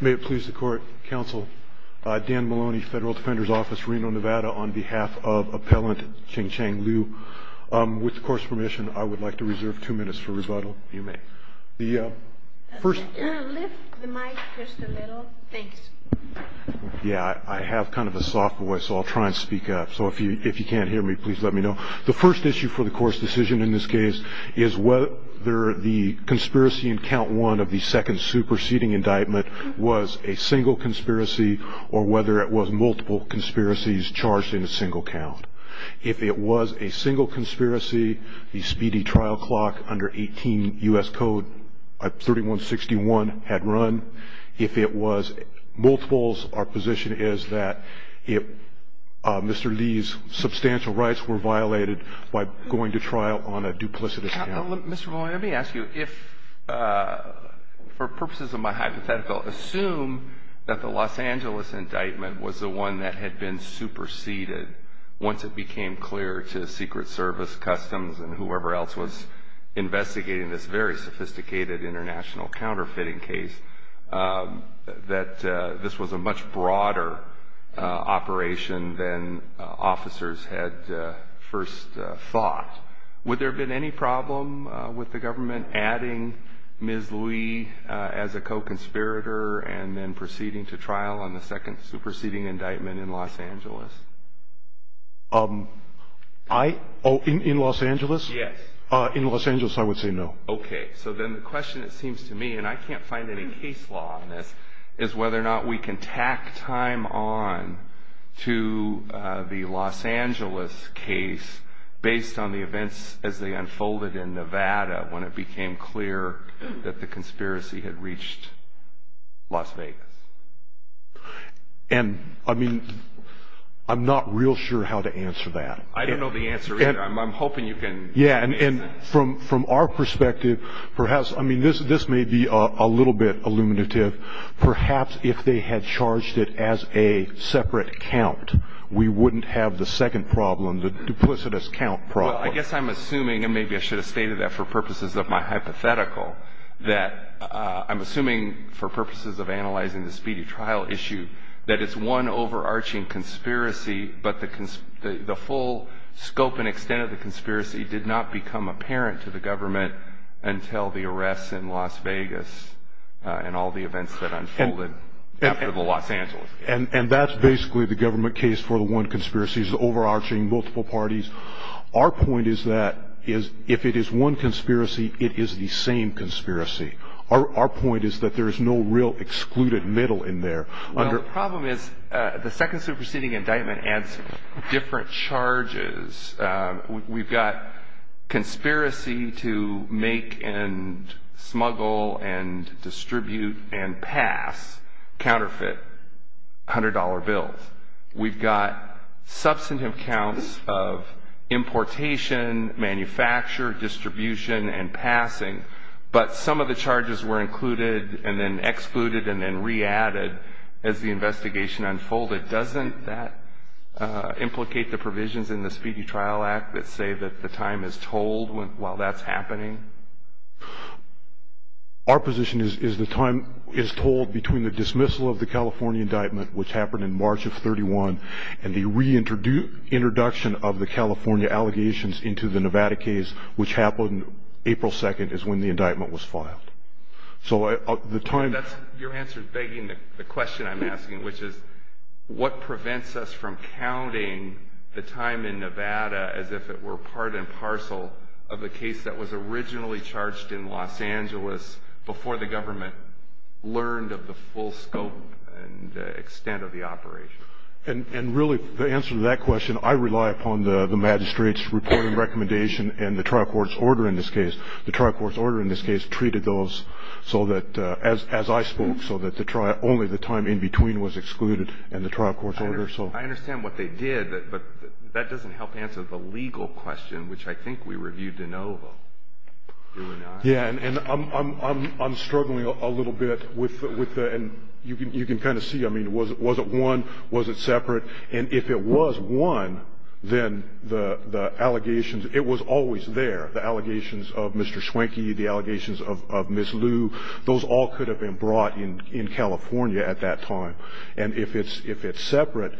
May it please the court, counsel, Dan Maloney, Federal Defender's Office, Reno, Nevada, on behalf of Appellant Chen Chang Liu. With the court's permission, I would like to reserve two minutes for rebuttal. You may. Lift the mic just a little. Thanks. Yeah, I have kind of a soft voice, so I'll try and speak up. So if you can't hear me, please let me know. The first issue for the court's decision in this case is whether the conspiracy in count one of the second superseding indictment was a single conspiracy or whether it was multiple conspiracies charged in a single count. If it was a single conspiracy, the speedy trial clock under 18 U.S. Code 3161 had run. If it was multiples, our position is that if Mr. Li's substantial rights were violated by going to trial on a duplicitous count. Mr. Maloney, let me ask you if, for purposes of my hypothetical, assume that the Los Angeles indictment was the one that had been superseded once it became clear to Secret Service, Customs, and whoever else was investigating this very sophisticated international counterfeiting case that this was a much broader operation than officers had first thought. Would there have been any problem with the government adding Ms. Li as a co-conspirator and then proceeding to trial on the second superseding indictment in Los Angeles? In Los Angeles? Yes. In Los Angeles, I would say no. Okay. So then the question, it seems to me, and I can't find any case law on this, is whether or not we can tack time on to the Los Angeles case based on the events as they unfolded in Nevada when it became clear that the conspiracy had reached Las Vegas. And, I mean, I'm not real sure how to answer that. I don't know the answer either. I'm hoping you can answer it. Yeah, and from our perspective, perhaps, I mean, this may be a little bit illuminative. Perhaps if they had charged it as a separate count, we wouldn't have the second problem, the duplicitous count problem. Well, I guess I'm assuming, and maybe I should have stated that for purposes of my hypothetical, that I'm assuming for purposes of analyzing the speedy trial issue that it's one overarching conspiracy, but the full scope and extent of the conspiracy did not become apparent to the government until the arrests in Las Vegas and all the events that unfolded after the Los Angeles case. And that's basically the government case for the one conspiracy. It's overarching, multiple parties. Our point is that if it is one conspiracy, it is the same conspiracy. Our point is that there is no real excluded middle in there. Well, the problem is the second superseding indictment adds different charges. We've got conspiracy to make and smuggle and distribute and pass counterfeit $100 bills. We've got substantive counts of importation, manufacture, distribution, and passing. But some of the charges were included and then excluded and then re-added as the investigation unfolded. Doesn't that implicate the provisions in the Speedy Trial Act that say that the time is told while that's happening? Our position is the time is told between the dismissal of the California indictment, which happened in March of 31, and the reintroduction of the California allegations into the Nevada case, which happened April 2nd is when the indictment was filed. So the time... Your answer is begging the question I'm asking, which is what prevents us from counting the time in Nevada as if it were part and parcel of the case that was originally charged in Los Angeles before the government learned of the full scope and extent of the operation? And really, the answer to that question, I rely upon the magistrate's reporting recommendation and the trial court's order in this case. The trial court's order in this case treated those so that, as I spoke, so that only the time in between was excluded in the trial court's order. I understand what they did, but that doesn't help answer the legal question, which I think we reviewed in OVA, do we not? Yeah, and I'm struggling a little bit with the... And you can kind of see, I mean, was it one, was it separate? And if it was one, then the allegations... It was always there, the allegations of Mr. Schwenke, the allegations of Ms. Lu. Those all could have been brought in California at that time. And if it's separate,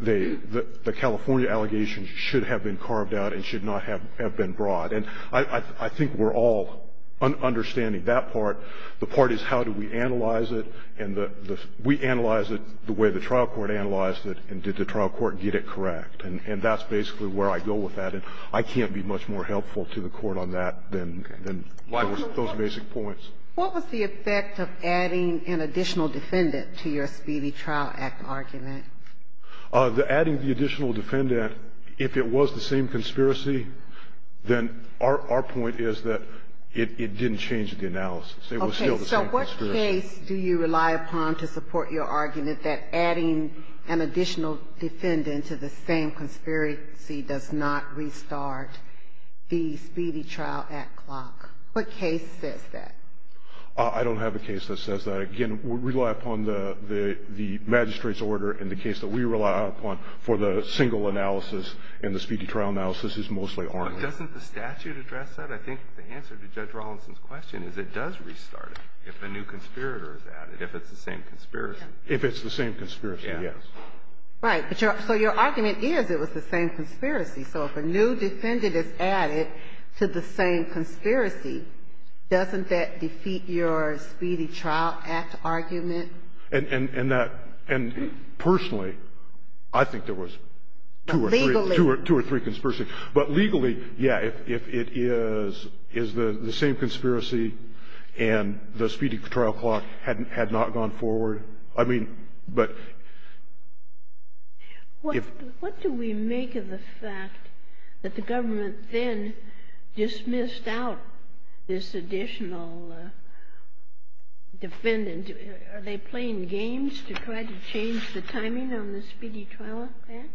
the California allegations should have been carved out and should not have been brought. And I think we're all understanding that part. The part is how do we analyze it, and we analyzed it the way the trial court analyzed it, and did the trial court get it correct. And that's basically where I go with that. And I can't be much more helpful to the court on that than those basic points. What was the effect of adding an additional defendant to your Speedy Trial Act argument? Adding the additional defendant, if it was the same conspiracy, then our point is that it didn't change the analysis. It was still the same conspiracy. Okay. So what case do you rely upon to support your argument that adding an additional defendant to the same conspiracy does not restart the Speedy Trial Act clock? What case says that? I don't have a case that says that. Again, we rely upon the magistrate's order, and the case that we rely upon for the single analysis and the Speedy Trial analysis is mostly Arnold. But doesn't the statute address that? I think the answer to Judge Rawlinson's question is it does restart it if a new conspirator is added, if it's the same conspiracy. If it's the same conspiracy, yes. Right. So your argument is it was the same conspiracy. So if a new defendant is added to the same conspiracy, doesn't that defeat your Speedy Trial Act argument? And that – and personally, I think there was two or three. Legally. Two or three conspiracies. But legally, yes, if it is the same conspiracy and the Speedy Trial clock had not gone forward. What do we make of the fact that the government then dismissed out this additional defendant? Are they playing games to try to change the timing on the Speedy Trial Act?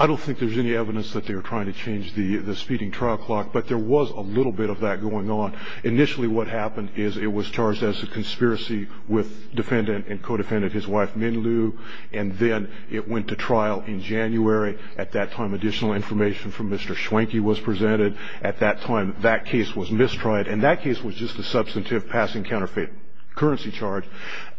I don't think there's any evidence that they were trying to change the Speedy Trial clock, but there was a little bit of that going on. Initially, what happened is it was charged as a conspiracy with defendant and co-defendant, his wife, Min Liu. And then it went to trial in January. At that time, additional information from Mr. Schwenke was presented. At that time, that case was mistried. And that case was just a substantive passing counterfeit currency charge.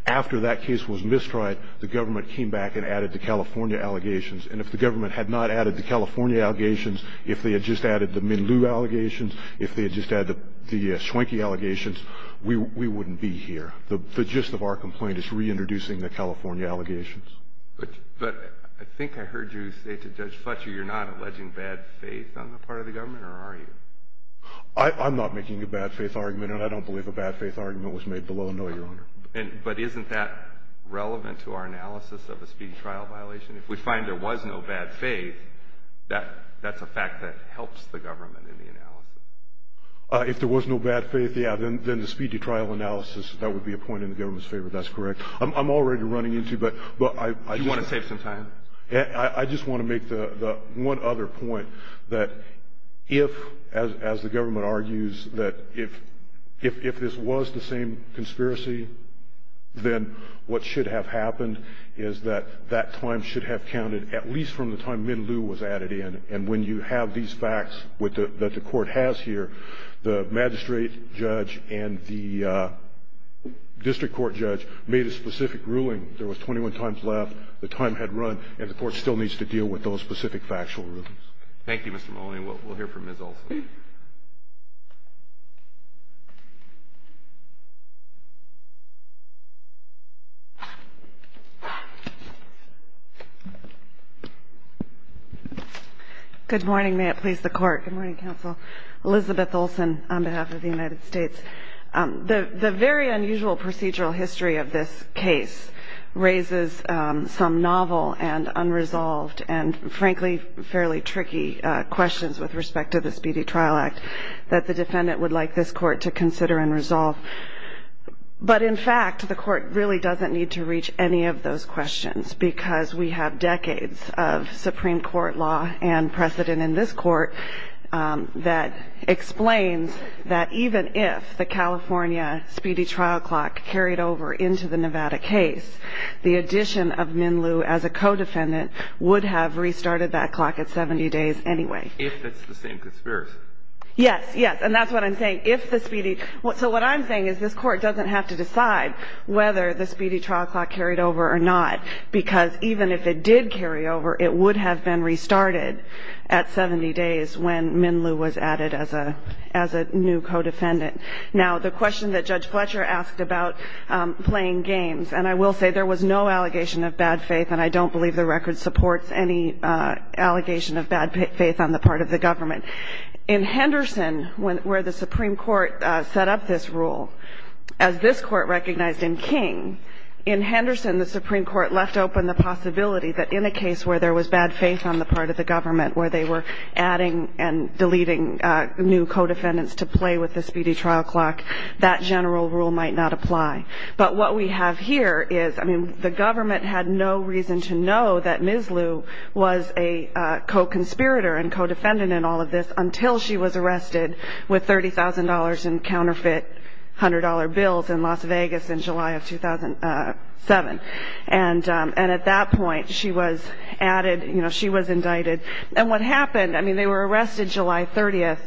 After that case was mistried, the government came back and added the California allegations. And if the government had not added the California allegations, if they had just added the Min Liu allegations, if they had just added the Schwenke allegations, we wouldn't be here. The gist of our complaint is reintroducing the California allegations. But I think I heard you say to Judge Fletcher you're not alleging bad faith on the part of the government, or are you? I'm not making a bad faith argument, and I don't believe a bad faith argument was made below no, Your Honor. But isn't that relevant to our analysis of a Speedy Trial violation? If we find there was no bad faith, that's a fact that helps the government in the analysis. If there was no bad faith, yeah, then the Speedy Trial analysis, that would be a point in the government's favor. That's correct. I'm already running into it, but I just want to make the one other point that if, as the government argues, that if this was the same conspiracy, then what should have happened is that that time should have counted at least from the time Min Liu was added in. And when you have these facts that the Court has here, the magistrate judge and the district court judge made a specific ruling. There was 21 times left. The time had run, and the Court still needs to deal with those specific factual rulings. Thank you, Mr. Maloney. We'll hear from Ms. Olson. Good morning. May it please the Court. Good morning, Counsel. Elizabeth Olson on behalf of the United States. The very unusual procedural history of this case raises some novel and unresolved and, that the defendant would like this Court to consider and resolve. But, in fact, the Court really doesn't need to reach any of those questions, because we have decades of Supreme Court law and precedent in this Court that explains that even if the California Speedy Trial clock carried over into the Nevada case, the addition of Min Liu as a co-defendant would have restarted that clock at 70 days anyway. If that's the same conspiracy. Yes. Yes. And that's what I'm saying. If the Speedy. So what I'm saying is this Court doesn't have to decide whether the Speedy Trial clock carried over or not, because even if it did carry over, it would have been restarted at 70 days when Min Liu was added as a new co-defendant. Now, the question that Judge Fletcher asked about playing games, and I will say there was no allegation of bad faith, and I don't believe the record supports any allegation of bad faith on the part of the government. In Henderson, where the Supreme Court set up this rule, as this Court recognized in King, in Henderson the Supreme Court left open the possibility that in a case where there was bad faith on the part of the government, where they were adding and deleting new co-defendants to play with the Speedy Trial clock, that general rule might not apply. But what we have here is, I mean, the government had no reason to know that Ms. Liu was a co-conspirator and co-defendant in all of this until she was arrested with $30,000 in counterfeit $100 bills in Las Vegas in July of 2007. And at that point, she was added, you know, she was indicted. And what happened, I mean, they were arrested July 30th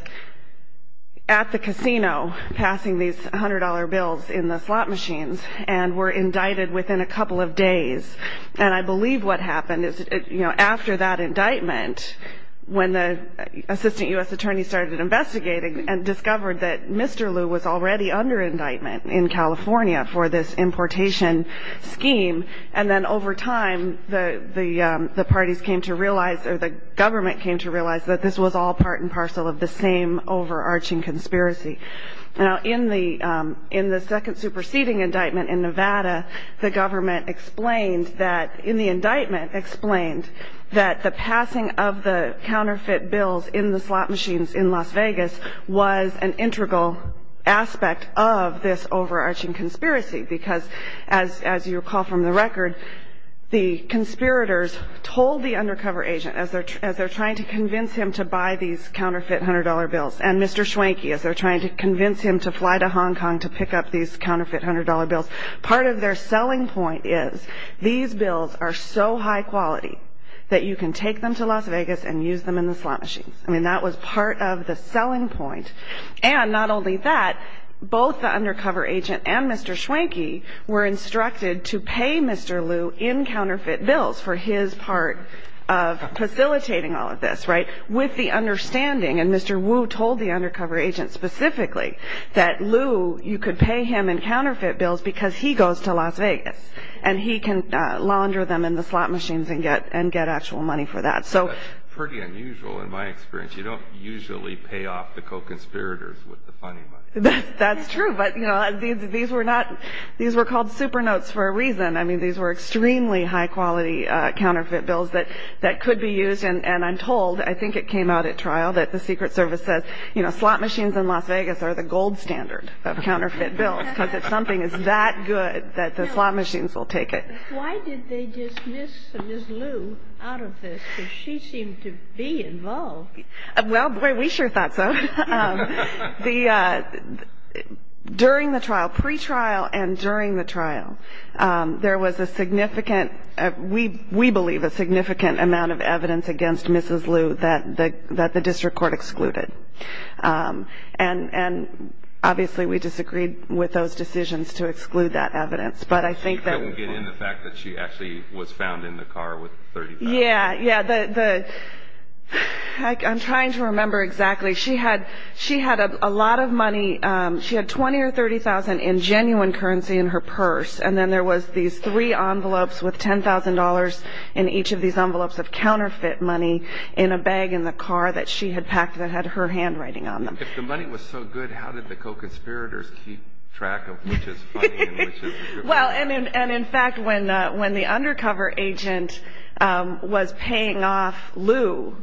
at the casino, passing these $100 bills in the slot machines, and were indicted within a couple of days. And I believe what happened is, you know, after that indictment, when the assistant U.S. attorney started investigating and discovered that Mr. Liu was already under indictment in California for this importation scheme, and then over time, the parties came to realize, or the government came to realize that this was all part and parcel of the same overarching conspiracy. Now, in the second superseding indictment in Nevada, the government explained that, in the indictment, explained that the passing of the counterfeit bills in the slot machines in Las Vegas was an integral aspect of this overarching conspiracy. Because as you recall from the record, the conspirators told the undercover agent, as they're trying to convince him to buy these counterfeit $100 bills, and Mr. Schwenke, as they're trying to convince him to fly to Hong Kong to pick up these counterfeit $100 bills, part of their selling point is, these bills are so high quality that you can take them to Las Vegas and use them in the slot machines. I mean, that was part of the selling point. And not only that, both the undercover agent and Mr. Schwenke were instructed to facilitate all of this, right? With the understanding, and Mr. Wu told the undercover agent specifically, that Lou, you could pay him in counterfeit bills because he goes to Las Vegas, and he can launder them in the slot machines and get actual money for that. That's pretty unusual in my experience. You don't usually pay off the co-conspirators with the funding money. I mean, these were extremely high quality counterfeit bills that could be used. And I'm told, I think it came out at trial, that the Secret Service says, you know, slot machines in Las Vegas are the gold standard of counterfeit bills, because if something is that good, that the slot machines will take it. Why did they dismiss Ms. Lou out of this? Because she seemed to be involved. Well, boy, we sure thought so. During the trial, pre-trial and during the trial, there was a significant, we believe, a significant amount of evidence against Mrs. Lou that the district court excluded. And obviously, we disagreed with those decisions to exclude that evidence. But I think that... You couldn't get in the fact that she actually was found in the car with $30,000. Yeah, yeah. I'm trying to remember exactly. She had a lot of money. She had $20,000 or $30,000 in genuine currency in her purse, and then there was these three envelopes with $10,000 in each of these envelopes of counterfeit money in a bag in the car that she had packed that had her handwriting on them. If the money was so good, how did the co-conspirators keep track of which is funding and which is the district court? Well, and, in fact, when the undercover agent was paying off Lou,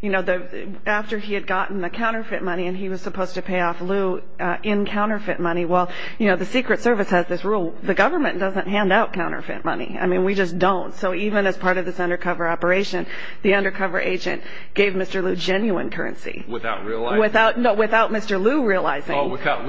you know, after he had gotten the counterfeit money and he was supposed to pay off Lou in counterfeit money, well, you know, the Secret Service has this rule. The government doesn't hand out counterfeit money. I mean, we just don't. So even as part of this undercover operation, the undercover agent gave Mr. Lou genuine currency. Without realizing it. No, without Mr. Lou realizing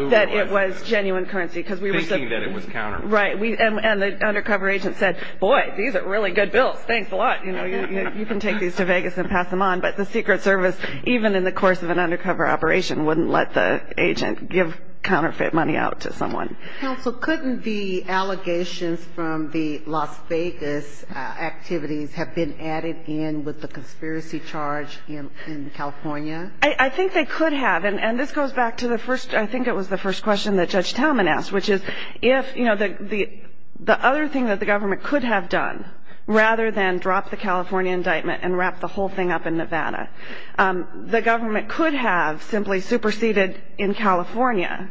that it was genuine currency. Thinking that it was counterfeit. Right. And the undercover agent said, boy, these are really good bills. Thanks a lot. You know, you can take these to Vegas and pass them on. But the Secret Service, even in the course of an undercover operation, wouldn't let the agent give counterfeit money out to someone. Counsel, couldn't the allegations from the Las Vegas activities have been added in with the conspiracy charge in California? I think they could have. And this goes back to the first, I think it was the first question that Judge Talman asked, which is, if, you know, the other thing that the government could have done, rather than drop the California indictment and wrap the whole thing up in Nevada, the government could have simply superseded in California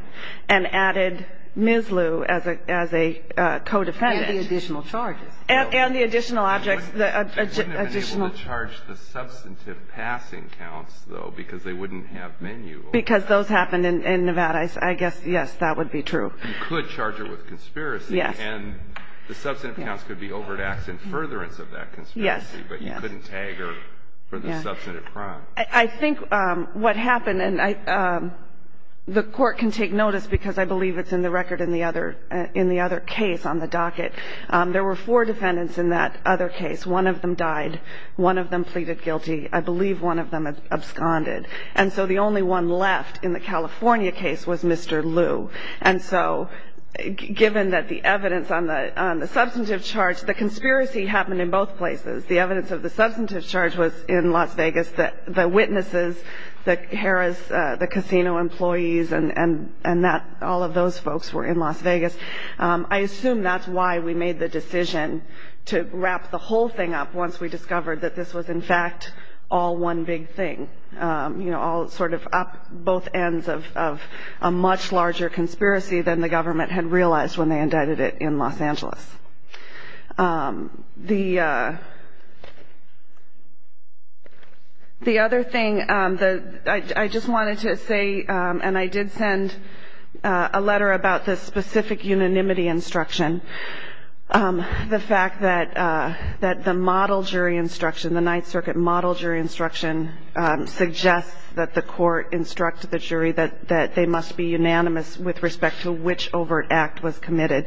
and added Ms. Lou as a co-defendant. And the additional charges. And the additional objects. They wouldn't have been able to charge the substantive passing counts, though, because they wouldn't have menu. Because those happened in Nevada. I guess, yes, that would be true. You could charge her with conspiracy. Yes. And the substantive counts could be overtaxed in furtherance of that conspiracy. Yes. But you couldn't tag her for the substantive crime. I think what happened, and the court can take notice because I believe it's in the record in the other case on the docket. There were four defendants in that other case. One of them died. One of them pleaded guilty. I believe one of them absconded. And so the only one left in the California case was Mr. Lou. And so given that the evidence on the substantive charge, the conspiracy happened in both places. The evidence of the substantive charge was in Las Vegas. The witnesses, the casino employees, and all of those folks were in Las Vegas. I assume that's why we made the decision to wrap the whole thing up once we We didn't want it to be, you know, all sort of up both ends of a much larger conspiracy than the government had realized when they indicted it in Los Angeles. The other thing that I just wanted to say, and I did send a letter about this specific unanimity instruction, the fact that the model jury instruction, the that the court instruct the jury that they must be unanimous with respect to which overt act was committed.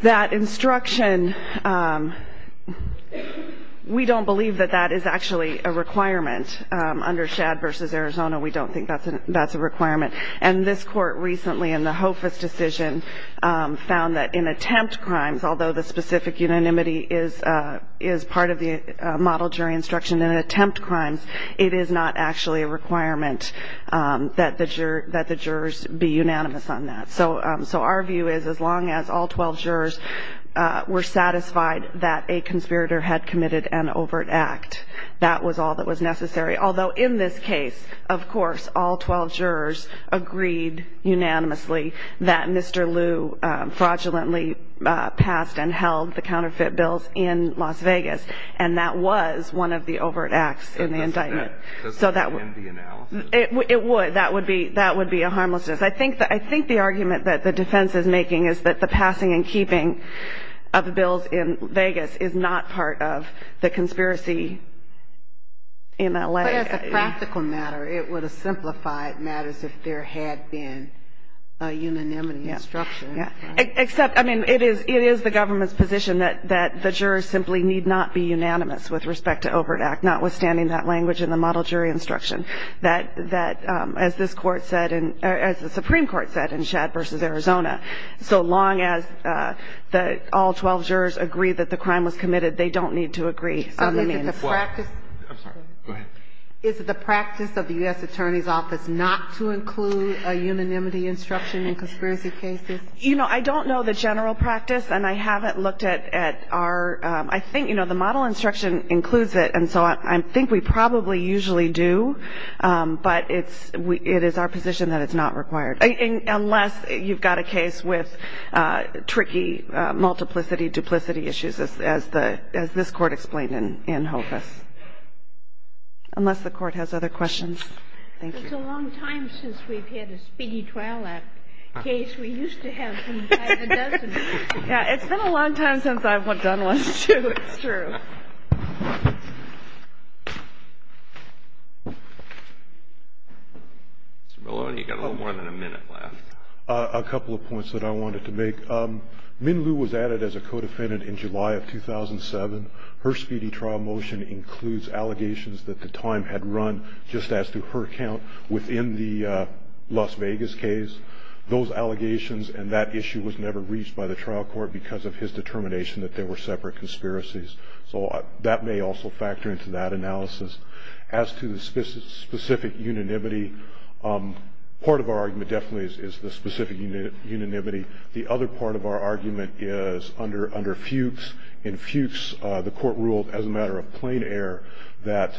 That instruction, we don't believe that that is actually a requirement under Shad v. Arizona. We don't think that's a requirement. And this court recently in the HOFA's decision found that in attempt crimes, although the specific unanimity is part of the model jury instruction in attempt crimes, it is not actually a requirement that the jurors be unanimous on that. So our view is as long as all 12 jurors were satisfied that a conspirator had committed an overt act, that was all that was necessary. Although in this case, of course, all 12 jurors agreed unanimously that Mr. Kline had passed and held the counterfeit bills in Las Vegas, and that was one of the overt acts in the indictment. So that would end the analysis? It would. That would be a harmlessness. I think the argument that the defense is making is that the passing and keeping of the bills in Vegas is not part of the conspiracy in L.A. But as a practical matter, it would have simplified matters if there had been a government's position that the jurors simply need not be unanimous with respect to overt act, notwithstanding that language in the model jury instruction, that as this Court said, as the Supreme Court said in Shad v. Arizona, so long as all 12 jurors agree that the crime was committed, they don't need to agree on the means. I'm sorry. Go ahead. Is it the practice of the U.S. Attorney's Office not to include a unanimity instruction in conspiracy cases? You know, I don't know the general practice, and I haven't looked at our ‑‑ I think, you know, the model instruction includes it, and so I think we probably usually do, but it's ‑‑ it is our position that it's not required, unless you've got a case with tricky multiplicity, duplicity issues, as the ‑‑ as this Court explained in Hocus. Unless the Court has other questions. Thank you. It's a long time since we've had a speedy trial act case. We used to have them by the dozen. Yeah, it's been a long time since I've done one, too. It's true. Mr. Maloney, you've got a little more than a minute left. A couple of points that I wanted to make. Min Liu was added as a co‑defendant in July of 2007. Her speedy trial motion includes allegations that the time had run, just as to her account, within the Las Vegas case. Those allegations and that issue was never reached by the trial court because of his determination that they were separate conspiracies. So that may also factor into that analysis. As to the specific unanimity, part of our argument definitely is the specific unanimity. The other part of our argument is under Fuchs. In Fuchs, the court ruled as a matter of plain air that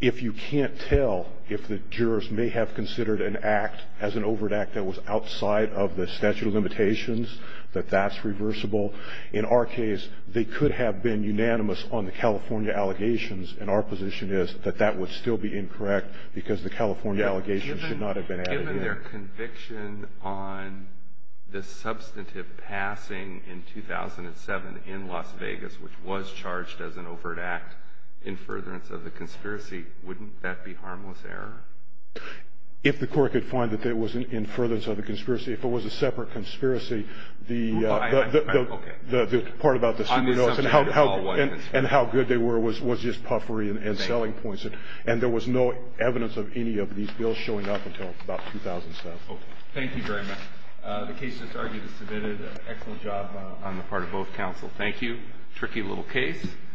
if you can't tell if the jurors may have considered an act as an overt act that was outside of the statute of limitations, that that's reversible. In our case, they could have been unanimous on the California allegations, and our position is that that would still be incorrect because the California allegations should not have been added in. Given their conviction on the substantive passing in 2007 in Las Vegas, which was charged as an overt act, in furtherance of the conspiracy, wouldn't that be harmless error? If the court could find that there was an in furtherance of the conspiracy, if it was a separate conspiracy, the part about the super notes and how good they were was just puffery and selling points, and there was no evidence of any of these bills showing up until about 2007. Thank you very much. The case is submitted. Excellent job on the part of both counsel. Thank you. Tricky little case.